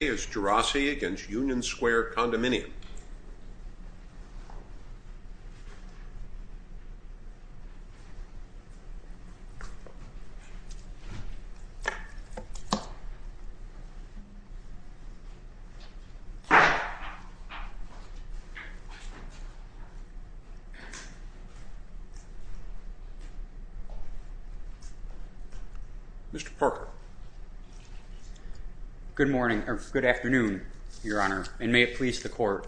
against Union Square Condominium. Good morning, or good afternoon, Your Honor, and may it please the court.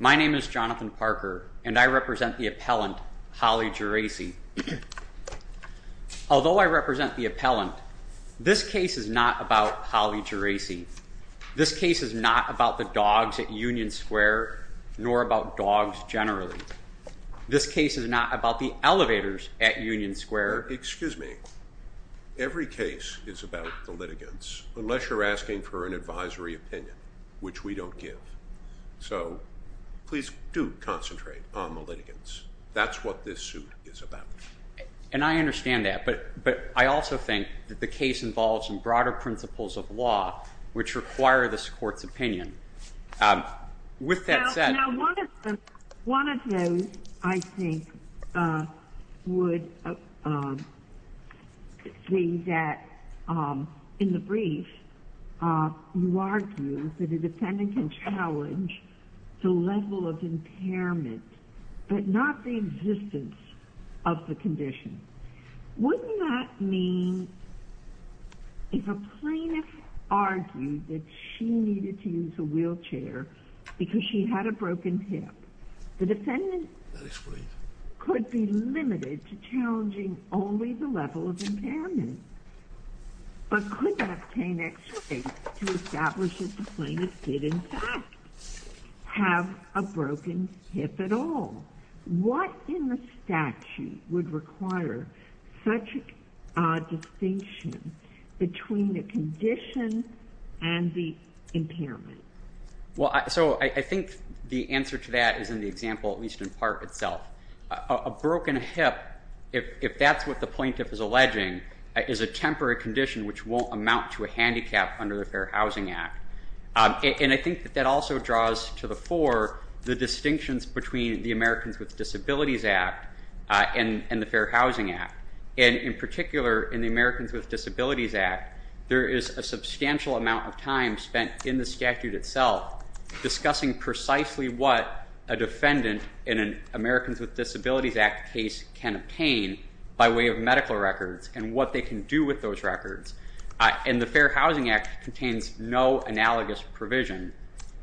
My name is Jonathan Parker, and I represent the appellant, Holly Geraci. Although I represent the appellant, this case is not about Holly Geraci. This case is not about the dogs at Union Square, nor about dogs generally. This case is not about the elevators at Union Square. Excuse me. Every case is about the litigants, unless you're asking for an advisory opinion, which we don't give. So please do concentrate on the litigants. That's what this suit is about. And I understand that, but I also think that the case involves some broader principles of law which require this court's opinion. With that said— Now, one of those, I think, would be that, in the brief, you argue that a defendant can challenge the level of impairment, but not the existence of the condition. Wouldn't that mean if a plaintiff argued that she needed to use a wheelchair because she had a broken hip, the defendant could be limited to challenging only the level of impairment, but could obtain extra aid to establish that the plaintiff did, in fact, have a broken hip at all? What in the statute would require such a distinction between the condition and the impairment? Well, so I think the answer to that is in the example, at least in part, itself. A broken hip, if that's what the plaintiff is alleging, is a temporary condition which won't amount to a handicap under the Fair Housing Act. And I think that that also draws to the fore the distinctions between the Americans with Disabilities Act and the Fair Housing Act. And in particular, in the Americans with Disabilities Act, there is a substantial amount of time spent in the statute itself discussing precisely what a defendant in an Americans with Disabilities Act case can obtain by way of medical records and what they can do with those records. And the Fair Housing Act contains no analogous provision.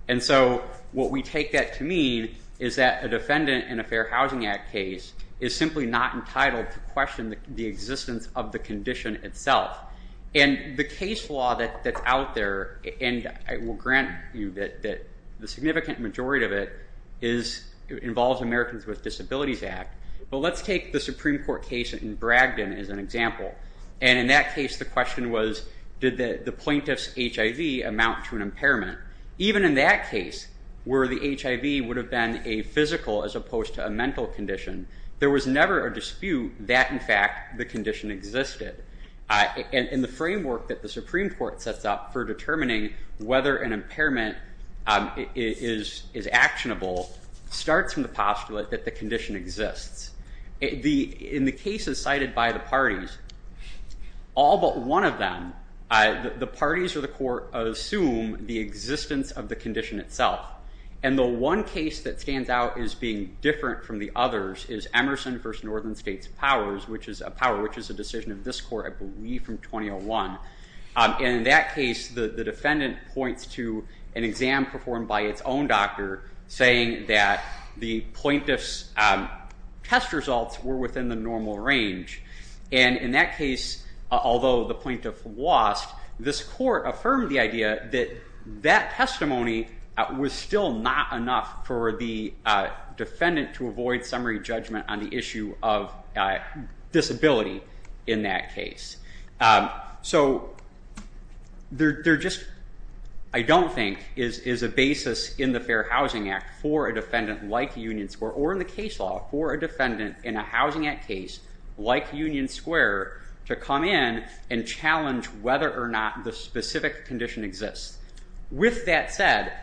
And so what we take that to mean is that a defendant in a Fair Housing Act case is simply not entitled to question the existence of the condition itself. And the case law that's out there, and I will grant you that the significant majority of it involves Americans with Disabilities Act, but let's take the Supreme Court case in Bragdon as an example. And in that case, the question was, did the plaintiff's HIV amount to an impairment? Even in that case, where the HIV would have been a physical as opposed to a mental condition, there was never a dispute that, in fact, the condition existed. And the framework that the Supreme Court sets up for determining whether an impairment is actionable starts from the postulate that the condition exists. In the cases cited by the parties, all but one of them, the parties or the court assume the existence of the condition itself. And the one case that stands out as being different from the others is Emerson v. Northern States Powers, which is a decision of this court, I believe, from 2001. And in that case, the defendant points to an exam performed by its own doctor, saying that the plaintiff's test results were within the normal range. And in that case, although the plaintiff lost, this court affirmed the idea that that testimony was still not enough for the defendant to avoid summary judgment on the issue of disability in that case. So there just, I don't think, is a basis in the Fair Housing Act for a defendant like Union Square or in the case law for a defendant in a Housing Act case like Union Square to come in and challenge whether or not the specific condition exists. With that said,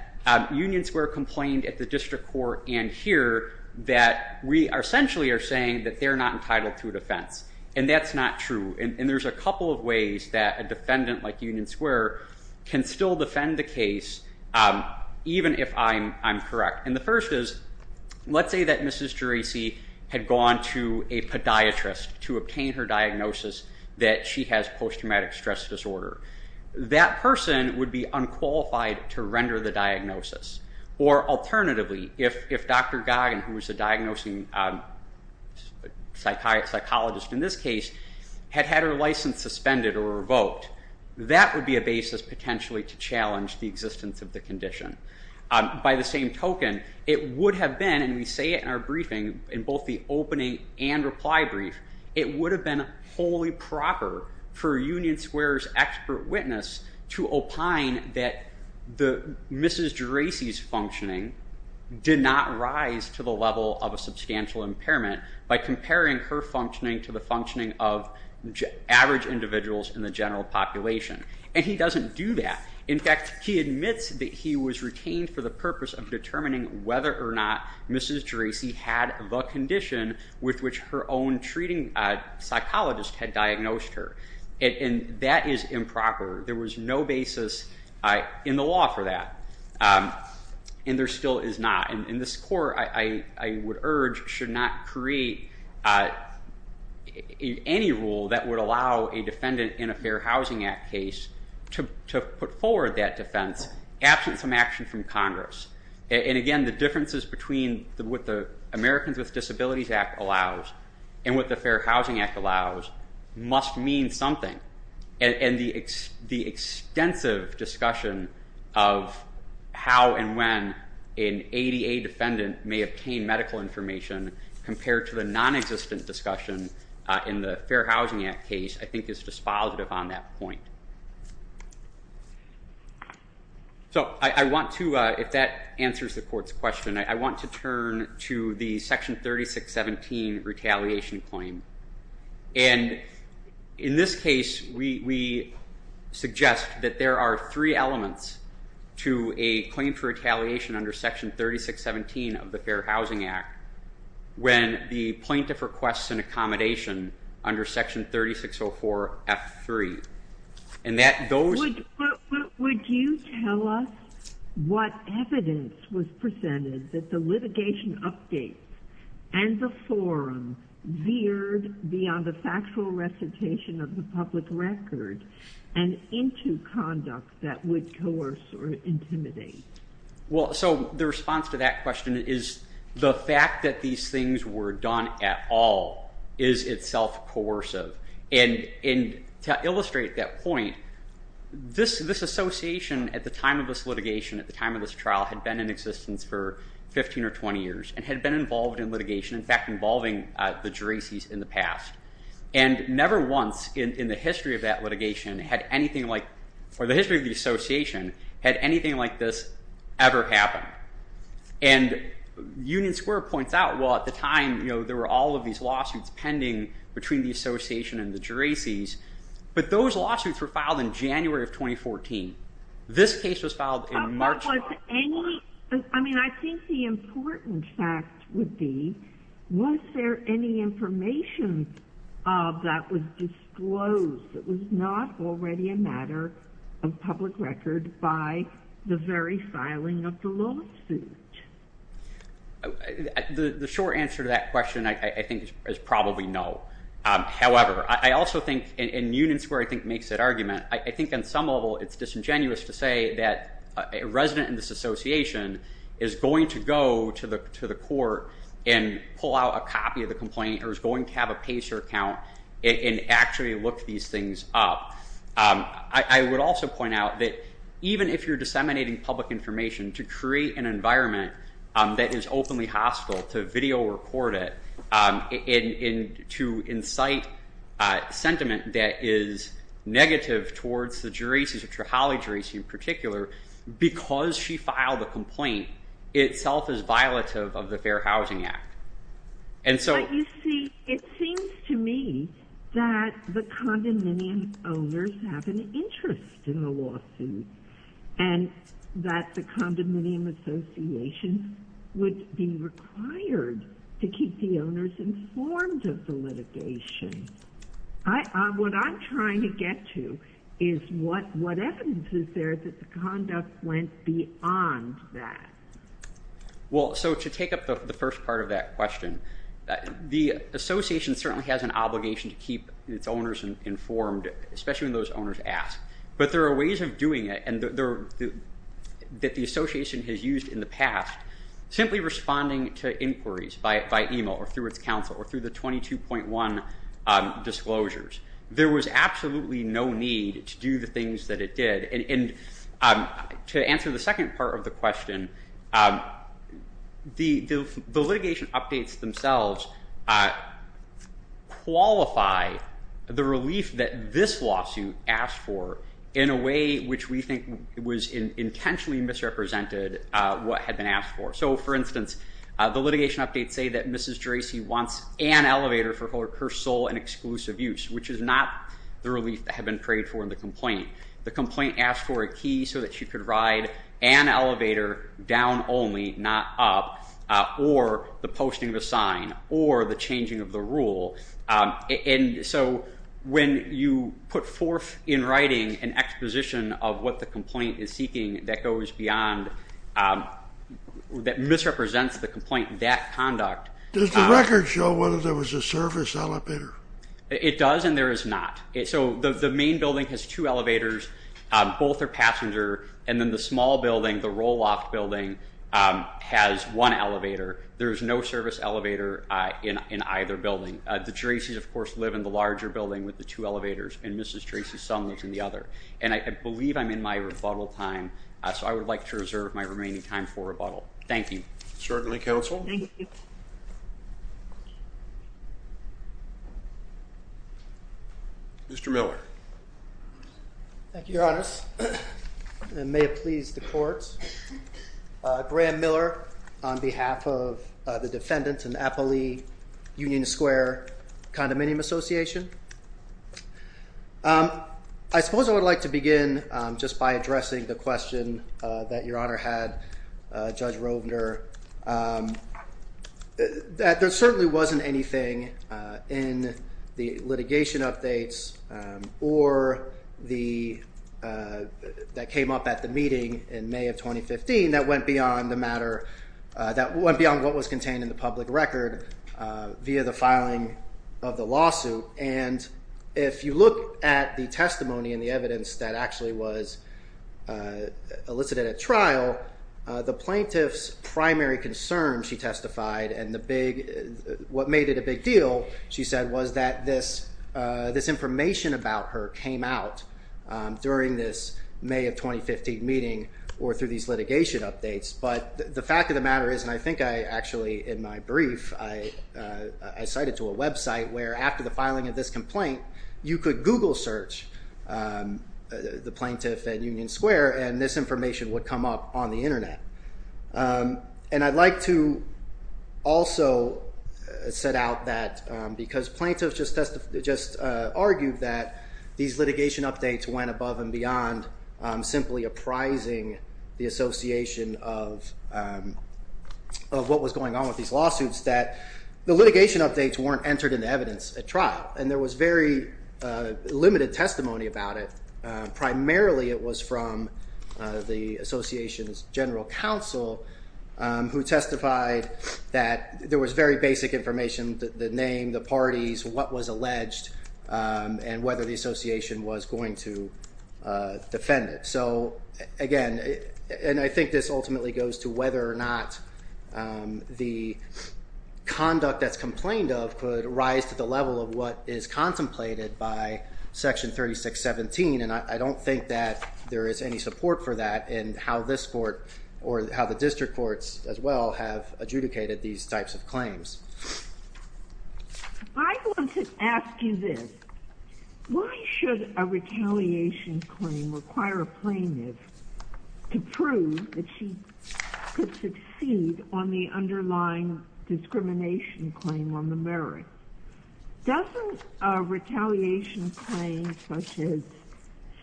Union Square complained at the district court and here that we essentially are saying that they're not entitled to a defense, and that's not true. And there's a couple of ways that a defendant like Union Square can still defend the case, even if I'm correct. And the first is, let's say that Mrs. Geraci had gone to a podiatrist to obtain her diagnosis that she has post-traumatic stress disorder. That person would be unqualified to render the diagnosis. Or alternatively, if Dr. Goggin, who was a diagnosing psychologist in this case, had had her license suspended or revoked, that would be a basis potentially to challenge the existence of the condition. By the same token, it would have been, and we say it in our briefing in both the opening and reply brief, it would have been wholly proper for Union Square's expert witness to opine that Mrs. Geraci's functioning did not rise to the level of a substantial impairment by comparing her functioning to the functioning of average individuals in the general population. And he doesn't do that. In fact, he admits that he was retained for the purpose of determining whether or not Mrs. Geraci had the condition with which her own treating psychologist had diagnosed her. And that is improper. There was no basis in the law for that. And there still is not. And this Court, I would urge, should not create any rule that would allow a defendant in a Fair Housing Act case to put forward that defense absent some action from Congress. And again, the differences between what the Americans with Disabilities Act allows and what the Fair Housing Act allows must mean something. And the extensive discussion of how and when an ADA defendant may obtain medical information compared to the nonexistent discussion in the Fair Housing Act case I think is dispositive on that point. So I want to, if that answers the Court's question, I want to turn to the Section 3617 retaliation claim. And in this case, we suggest that there are three elements to a claim for retaliation under Section 3617 of the Fair Housing Act when the plaintiff requests an accommodation under Section 3604 F3. Would you tell us what evidence was presented that the litigation updates and the forum veered beyond the factual recitation of the public record and into conduct that would coerce or intimidate? Well, so the response to that question is the fact that these things were done at all is itself coercive. And to illustrate that point, this association at the time of this litigation, at the time of this trial, had been in existence for 15 or 20 years and had been involved in litigation, in fact, involving the Geracies in the past. And never once in the history of that litigation had anything like, or the history of the association, had anything like this ever happened. And Union Square points out, well, at the time, you know, there were all of these lawsuits pending between the association and the Geracies, but those lawsuits were filed in January of 2014. This case was filed in March of 2014. I mean, I think the important fact would be, was there any information that was disclosed that was not already a matter of public record by the very filing of the lawsuit? The short answer to that question, I think, is probably no. However, I also think, and Union Square, I think, makes that argument. I think on some level it's disingenuous to say that a resident in this association is going to go to the court and pull out a copy of the complaint or is going to have a PACER account and actually look these things up. I would also point out that even if you're disseminating public information, to create an environment that is openly hostile, to video record it, to incite sentiment that is negative towards the Geracies, the Trehali Geracies in particular, because she filed a complaint, itself is violative of the Fair Housing Act. But you see, it seems to me that the condominium owners have an interest in the lawsuit and that the condominium association would be required to keep the owners informed of the litigation. What I'm trying to get to is what evidence is there that the conduct went beyond that. Well, so to take up the first part of that question, the association certainly has an obligation to keep its owners informed, especially when those owners ask. But there are ways of doing it that the association has used in the past, simply responding to inquiries by email or through its counsel or through the 22.1 disclosures. There was absolutely no need to do the things that it did. To answer the second part of the question, the litigation updates themselves qualify the relief that this lawsuit asked for in a way which we think was intentionally misrepresented what had been asked for. So, for instance, the litigation updates say that Mrs. Geracy wants an elevator for her sole and exclusive use, which is not the relief that had been prayed for in the complaint. The complaint asked for a key so that she could ride an elevator down only, not up, or the posting of a sign, or the changing of the rule. And so when you put forth in writing an exposition of what the complaint is seeking that goes beyond, that misrepresents the complaint, that conduct. Does the record show whether there was a service elevator? It does and there is not. So the main building has two elevators, both are passenger, and then the small building, the Roloff building, has one elevator. There is no service elevator in either building. The Geracy's, of course, live in the larger building with the two elevators, and Mrs. Geracy's son lives in the other. And I believe I'm in my rebuttal time, so I would like to reserve my remaining time for rebuttal. Thank you. Certainly, counsel. Thank you. Mr. Miller. Thank you, Your Honors. And may it please the court. Graham Miller on behalf of the defendants in the Apolli Union Square Condominium Association. I suppose I would like to begin just by addressing the question that Your Honor had, Judge Rovner, that there certainly wasn't anything in the litigation updates or that came up at the meeting in May of 2015 that went beyond what was contained in the public record via the filing of the lawsuit. And if you look at the testimony and the evidence that actually was elicited at trial, the plaintiff's primary concern, she testified, and what made it a big deal, she said, was that this information about her came out during this May of 2015 meeting or through these litigation updates. But the fact of the matter is, and I think I actually, in my brief, I cited to a website, where after the filing of this complaint, you could Google search the plaintiff at Union Square, and this information would come up on the Internet. And I'd like to also set out that because plaintiffs just argued that these litigation updates went above and beyond simply apprising the association of what was going on with these lawsuits, that the litigation updates weren't entered into evidence at trial. And there was very limited testimony about it. Primarily it was from the association's general counsel, who testified that there was very basic information, the name, the parties, what was alleged, and whether the association was going to defend it. So again, and I think this ultimately goes to whether or not the conduct that's complained of could rise to the level of what is contemplated by Section 3617. And I don't think that there is any support for that in how this court, or how the district courts as well, have adjudicated these types of claims. I want to ask you this. Why should a retaliation claim require a plaintiff to prove that she could succeed on the underlying discrimination claim on the merit? Doesn't a retaliation claim, such as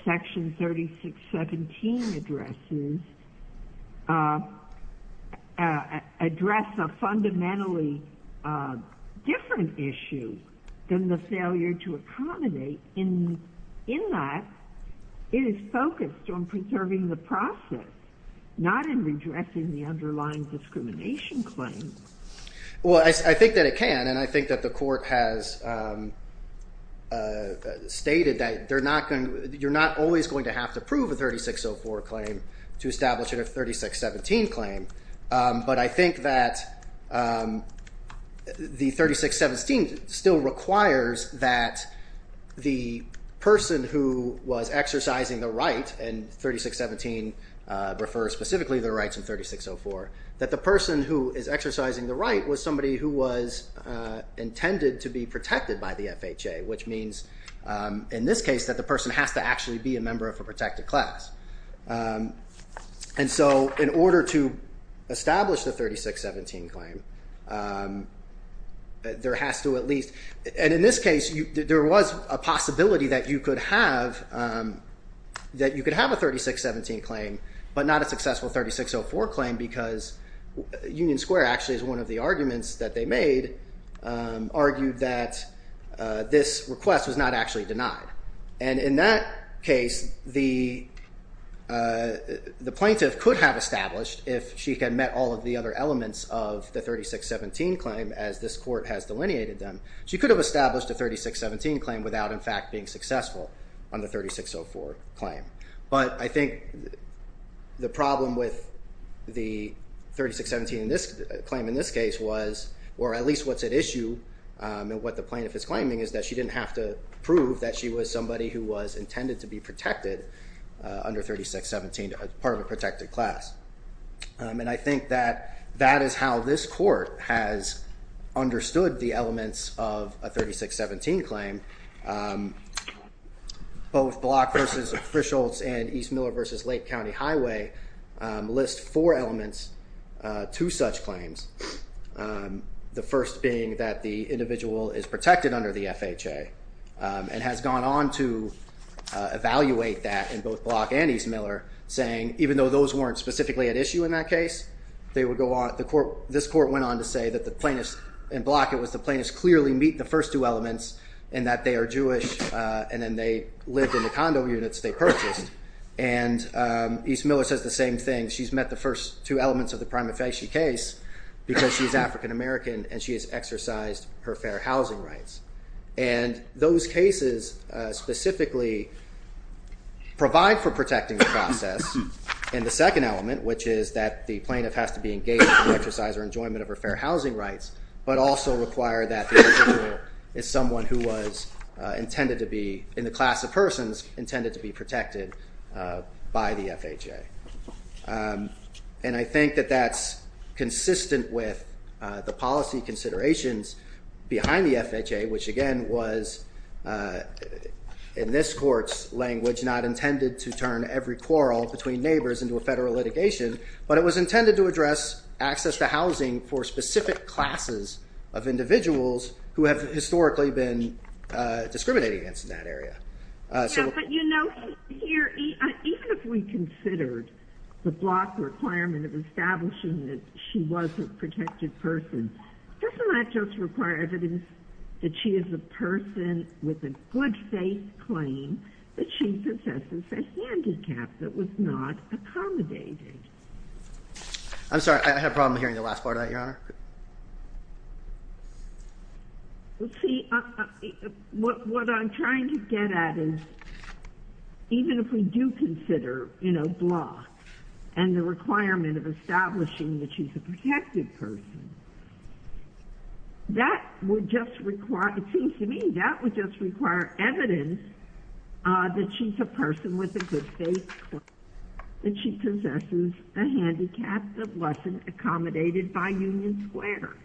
Section 3617 addresses, address a fundamentally different issue than the failure to accommodate? In that, it is focused on preserving the process, not in redressing the underlying discrimination claim. Well, I think that it can. And I think that the court has stated that you're not always going to have to prove a 3604 claim to establish a 3617 claim. But I think that the 3617 still requires that the person who was exercising the right, and 3617 refers specifically to the rights of 3604, that the person who is exercising the right was somebody who was intended to be protected by the FHA, which means in this case that the person has to actually be a member of a protected class. And so in order to establish the 3617 claim, there has to at least, and in this case, there was a possibility that you could have a 3617 claim, but not a successful 3604 claim because Union Square actually is one of the arguments that they made, argued that this request was not actually denied. And in that case, the plaintiff could have established if she had met all of the other elements of the 3617 claim as this court has delineated them. She could have established a 3617 claim without in fact being successful on the 3604 claim. But I think the problem with the 3617 claim in this case was, or at least what's at issue, and what the plaintiff is claiming is that she didn't have to prove that she was somebody who was intended to be protected under 3617, part of a protected class. And I think that that is how this court has understood the elements of a 3617 claim. Both Block v. Officials and East Miller v. Lake County Highway list four elements to such claims, the first being that the individual is protected under the FHA and has gone on to evaluate that in both Block and East Miller, saying even though those weren't specifically at issue in that case, this court went on to say that in Block it was the plaintiff clearly meeting the first two elements and that they are Jewish and then they lived in the condo units they purchased. And East Miller says the same thing. She's met the first two elements of the prima facie case because she's African American and she has exercised her fair housing rights. And those cases specifically provide for protecting the process in the second element, which is that the plaintiff has to be engaged in the exercise or enjoyment of her fair housing rights, but also require that the individual is someone who was intended to be, in the class of persons, intended to be protected by the FHA. And I think that that's consistent with the policy considerations behind the FHA, which again was in this court's language not intended to turn every quarrel between neighbors into a federal litigation, but it was intended to address access to housing for specific classes of individuals who have historically been discriminated against in that area. But you know, here, even if we considered the Block requirement of establishing that she was a protected person, doesn't that just require evidence that she is a person with a good faith claim that she possesses a handicap that was not accommodated? I'm sorry, I had a problem hearing the last part of that, Your Honor. Let's see, what I'm trying to get at is, even if we do consider, you know, Block and the requirement of establishing that she's a protected person, that would just require, it seems to me, that would just require evidence that she's a person with a good faith claim that she possesses a handicap that wasn't accommodated by Union Square.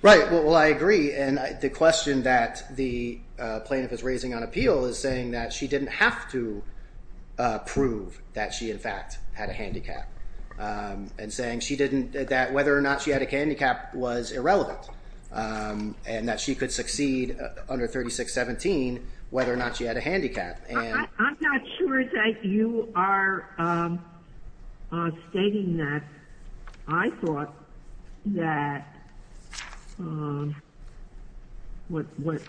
Right, well I agree, and the question that the plaintiff is raising on appeal is saying that she didn't have to prove that she in fact had a handicap, and saying she didn't, that whether or not she had a handicap was irrelevant, and that she could succeed under 3617 whether or not she had a handicap. I'm not sure that you are stating that. I thought that what was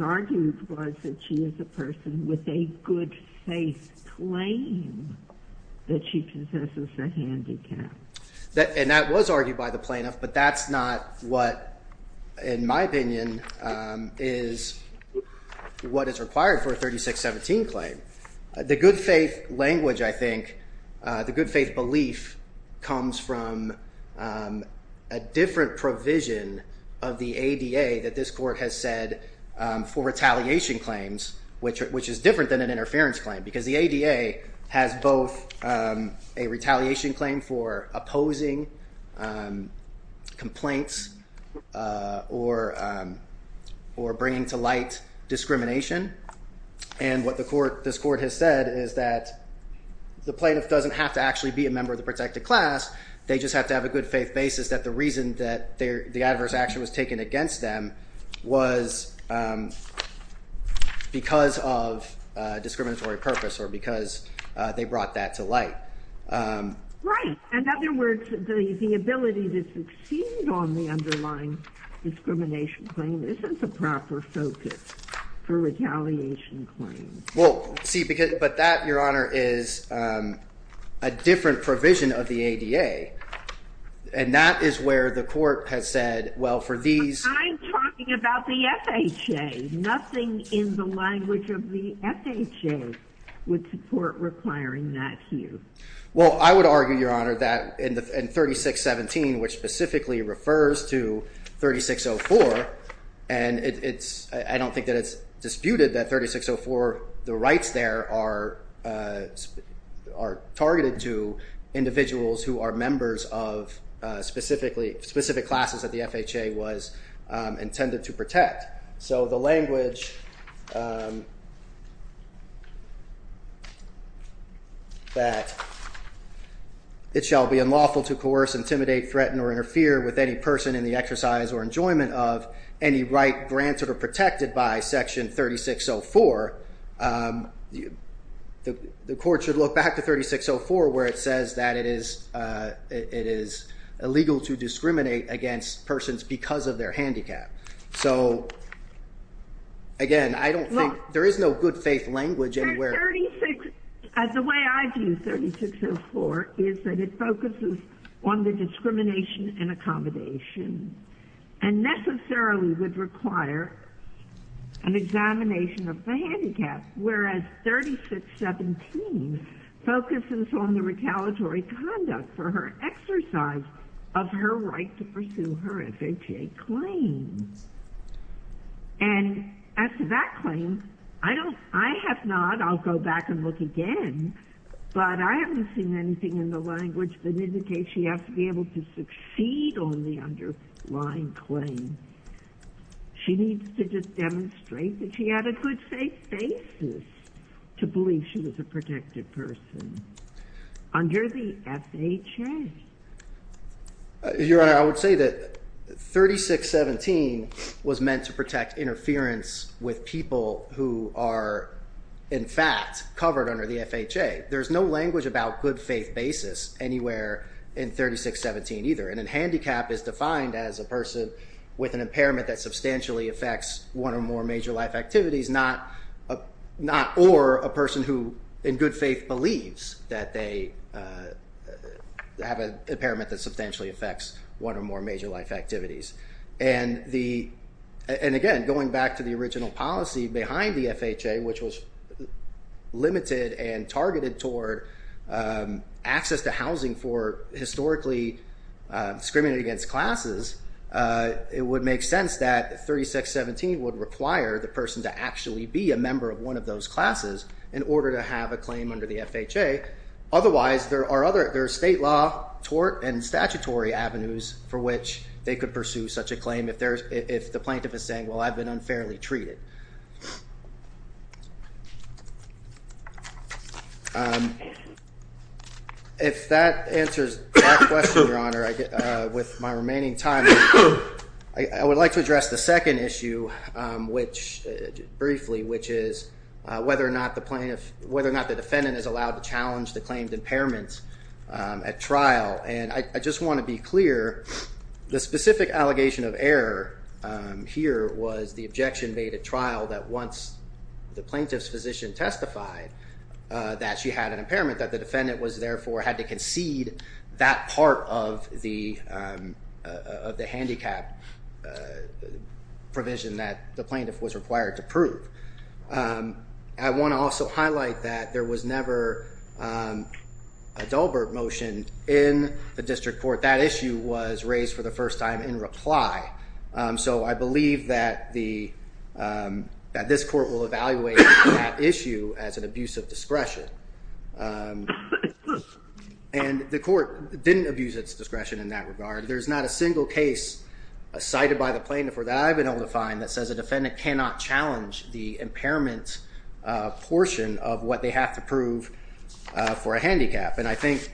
argued was that she is a person with a good faith claim that she possesses a handicap. And that was argued by the plaintiff, but that's not what, in my opinion, is what is required for a 3617 claim. The good faith language, I think, the good faith belief comes from a different provision of the ADA that this Court has said for retaliation claims, which is different than an interference claim, because the ADA has both a retaliation claim for opposing complaints or bringing to light discrimination, and what this Court has said is that the plaintiff doesn't have to actually be a member of the protected class, they just have to have a good faith basis that the reason that the adverse action was taken against them was because of discriminatory purpose or because they brought that to light. Right. In other words, the ability to succeed on the underlying discrimination claim isn't the proper focus for retaliation claims. Well, see, but that, Your Honor, is a different provision of the ADA, and that is where the Court has said, well, for these... But I'm talking about the FHA. Nothing in the language of the FHA would support requiring that here. Well, I would argue, Your Honor, that in 3617, which specifically refers to 3604, and I don't think that it's disputed that 3604, the rights there are targeted to individuals who are members of specific classes that the FHA was intended to protect. So the language that it shall be unlawful to coerce, intimidate, threaten, or interfere with any person in the exercise or enjoyment of any right granted or protected by Section 3604, the Court should look back to 3604 where it says that it is illegal to discriminate against persons because of their handicap. So, again, I don't think, there is no good faith language anywhere. The way I view 3604 is that it focuses on the discrimination and accommodation, and necessarily would require an examination of the handicap, whereas 3617 focuses on the retaliatory conduct for her exercise of her right to pursue her FHA claim. And as to that claim, I have not, I'll go back and look again, but I haven't seen anything in the language that indicates she has to be able to succeed on the underlying claim. She needs to just demonstrate that she had a good faith basis to believe she was a protected person under the FHA. Your Honor, I would say that 3617 was meant to protect interference with people who are, in fact, covered under the FHA. There's no language about good faith basis anywhere in 3617 either, and a handicap is defined as a person with an impairment that substantially affects one or more major life activities, not, or a person who, in good faith, believes that they have an impairment that substantially affects one or more major life activities. And the, and again, going back to the original policy behind the FHA, which was limited and targeted toward access to housing for historically discriminated against classes, it would make sense that 3617 would require the person to actually be a member of one of those classes in order to have a claim under the FHA. Otherwise, there are other, there are state law, tort, and statutory avenues for which they could pursue such a claim if there's, if the plaintiff is saying, well, I've been unfairly treated. If that answers that question, Your Honor, with my remaining time, I would like to address the second issue, which, briefly, which is whether or not the plaintiff, whether or not the defendant is allowed to challenge the claimed impairments at trial. And I just want to be clear, the specific allegation of error here was the objection made at trial that once the plaintiff's physician testified that she had an impairment, that the defendant was, therefore, had to concede that part of the handicap provision that the plaintiff was required to prove. I want to also highlight that there was never a Dahlberg motion in the district court. That issue was raised for the first time in reply. So I believe that the, that this court will evaluate that issue as an abuse of discretion. And the court didn't abuse its discretion in that regard. There's not a single case cited by the plaintiff that I've been able to find that says a defendant cannot challenge the impairment portion of what they have to prove for a handicap. And I think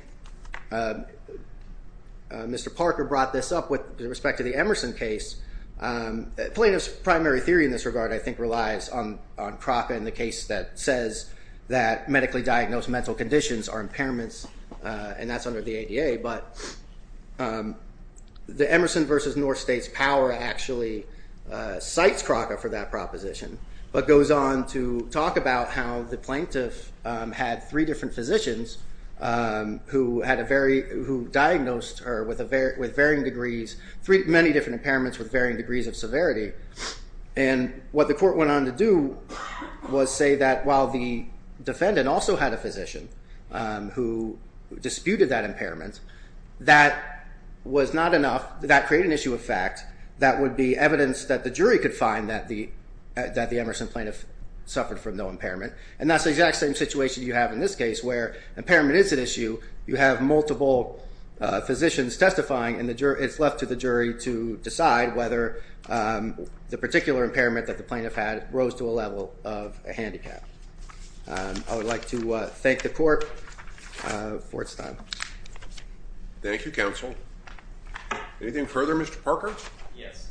Mr. Parker brought this up with respect to the Emerson case. Plaintiff's primary theory in this regard, I think, relies on Kroka and the case that says that medically diagnosed mental conditions are impairments, and that's under the ADA. But the Emerson v. North State's power actually cites Kroka for that proposition, but goes on to talk about how the plaintiff had three different physicians who diagnosed her with varying degrees, many different impairments with varying degrees of severity. And what the court went on to do was say that while the defendant also had a physician who disputed that impairment, that was not enough. That created an issue of fact that would be evidence that the jury could find that the Emerson plaintiff suffered from no impairment. And that's the exact same situation you have in this case, where impairment is an issue. You have multiple physicians testifying, and it's left to the jury to decide whether the particular impairment that the plaintiff had rose to a level of a handicap. I would like to thank the court for its time. Thank you, counsel. Anything further, Mr. Parker? Yes.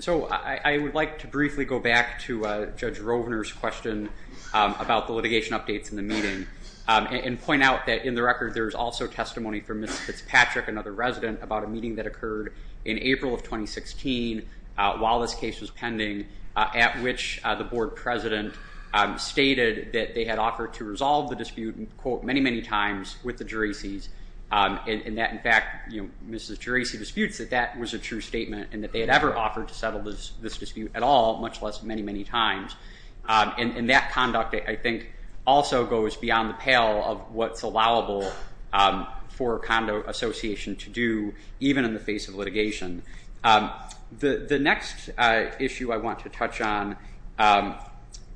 So I would like to briefly go back to Judge Rovner's question about the litigation updates in the meeting and point out that in the record there is also testimony from Ms. Fitzpatrick, another resident, about a meeting that occurred in April of 2016, while this case was pending, at which the board president stated that they had offered to resolve the dispute, quote, many, many times with the juracies, and that, in fact, Ms. Juracy disputes that that was a true statement and that they had ever offered to settle this dispute at all, much less many, many times. And that conduct, I think, also goes beyond the pale of what's allowable for a condo association to do, even in the face of litigation. The next issue I want to touch on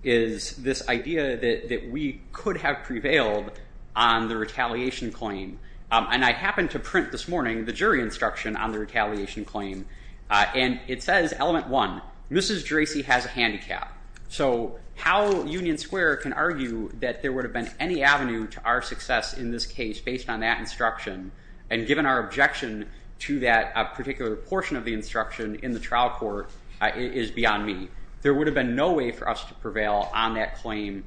is this idea that we could have prevailed on the retaliation claim, and I happened to print this morning the jury instruction on the retaliation claim, and it says, element one, Ms. Juracy has a handicap. So how Union Square can argue that there would have been any avenue to our success in this case based on that instruction and given our objection to that particular portion of the instruction in the trial court is beyond me. There would have been no way for us to prevail on that claim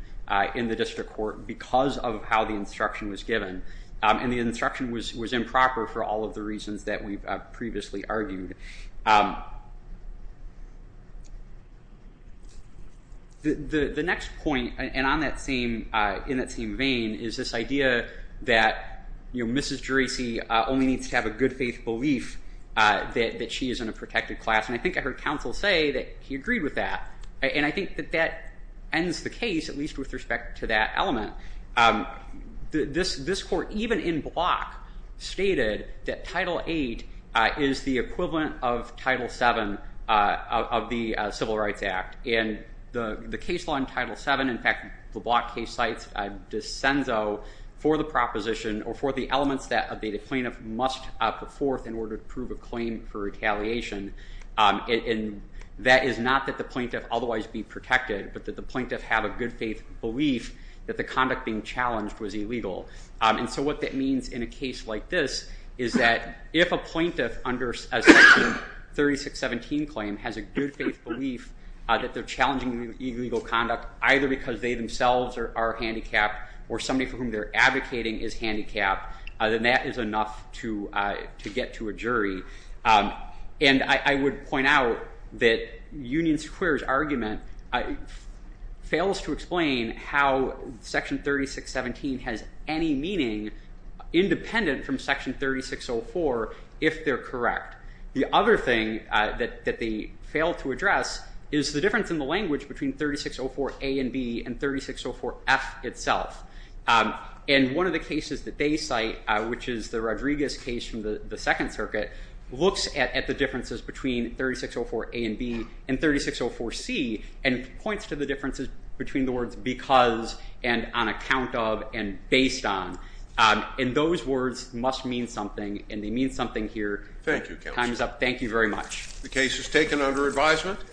in the district court because of how the instruction was given. And the instruction was improper for all of the reasons that we've previously argued. The next point, and on that same, in that same vein, is this idea that, you know, Mrs. Juracy only needs to have a good faith belief that she is in a protected class. And I think I heard counsel say that he agreed with that, and I think that that ends the case, at least with respect to that element. This court, even in Block, stated that Title VIII is the equivalent of Title VII of the Civil Rights Act. And the case law in Title VII, in fact, the Block case cites de Senso for the proposition or for the elements that a plaintiff must put forth in order to prove a claim for retaliation. And that is not that the plaintiff otherwise be protected, but that the plaintiff have a good faith belief that the conduct being challenged was illegal. And so what that means in a case like this is that if a plaintiff under Section 3617 claim has a good faith belief that they're challenging illegal conduct, either because they themselves are handicapped or somebody for whom they're advocating is handicapped, then that is enough to get to a jury. And I would point out that Union Square's argument fails to explain how Section 3617 has any meaning independent from Section 3604 if they're correct. The other thing that they fail to address is the difference in the language between 3604 A and B and 3604 F itself. And one of the cases that they cite, which is the Rodriguez case from the Second Circuit, looks at the differences between 3604 A and B and 3604 C and points to the differences between the words because and on account of and based on. And those words must mean something, and they mean something here. Thank you, Counselor. Time is up. Thank you very much. The case is taken under advisement.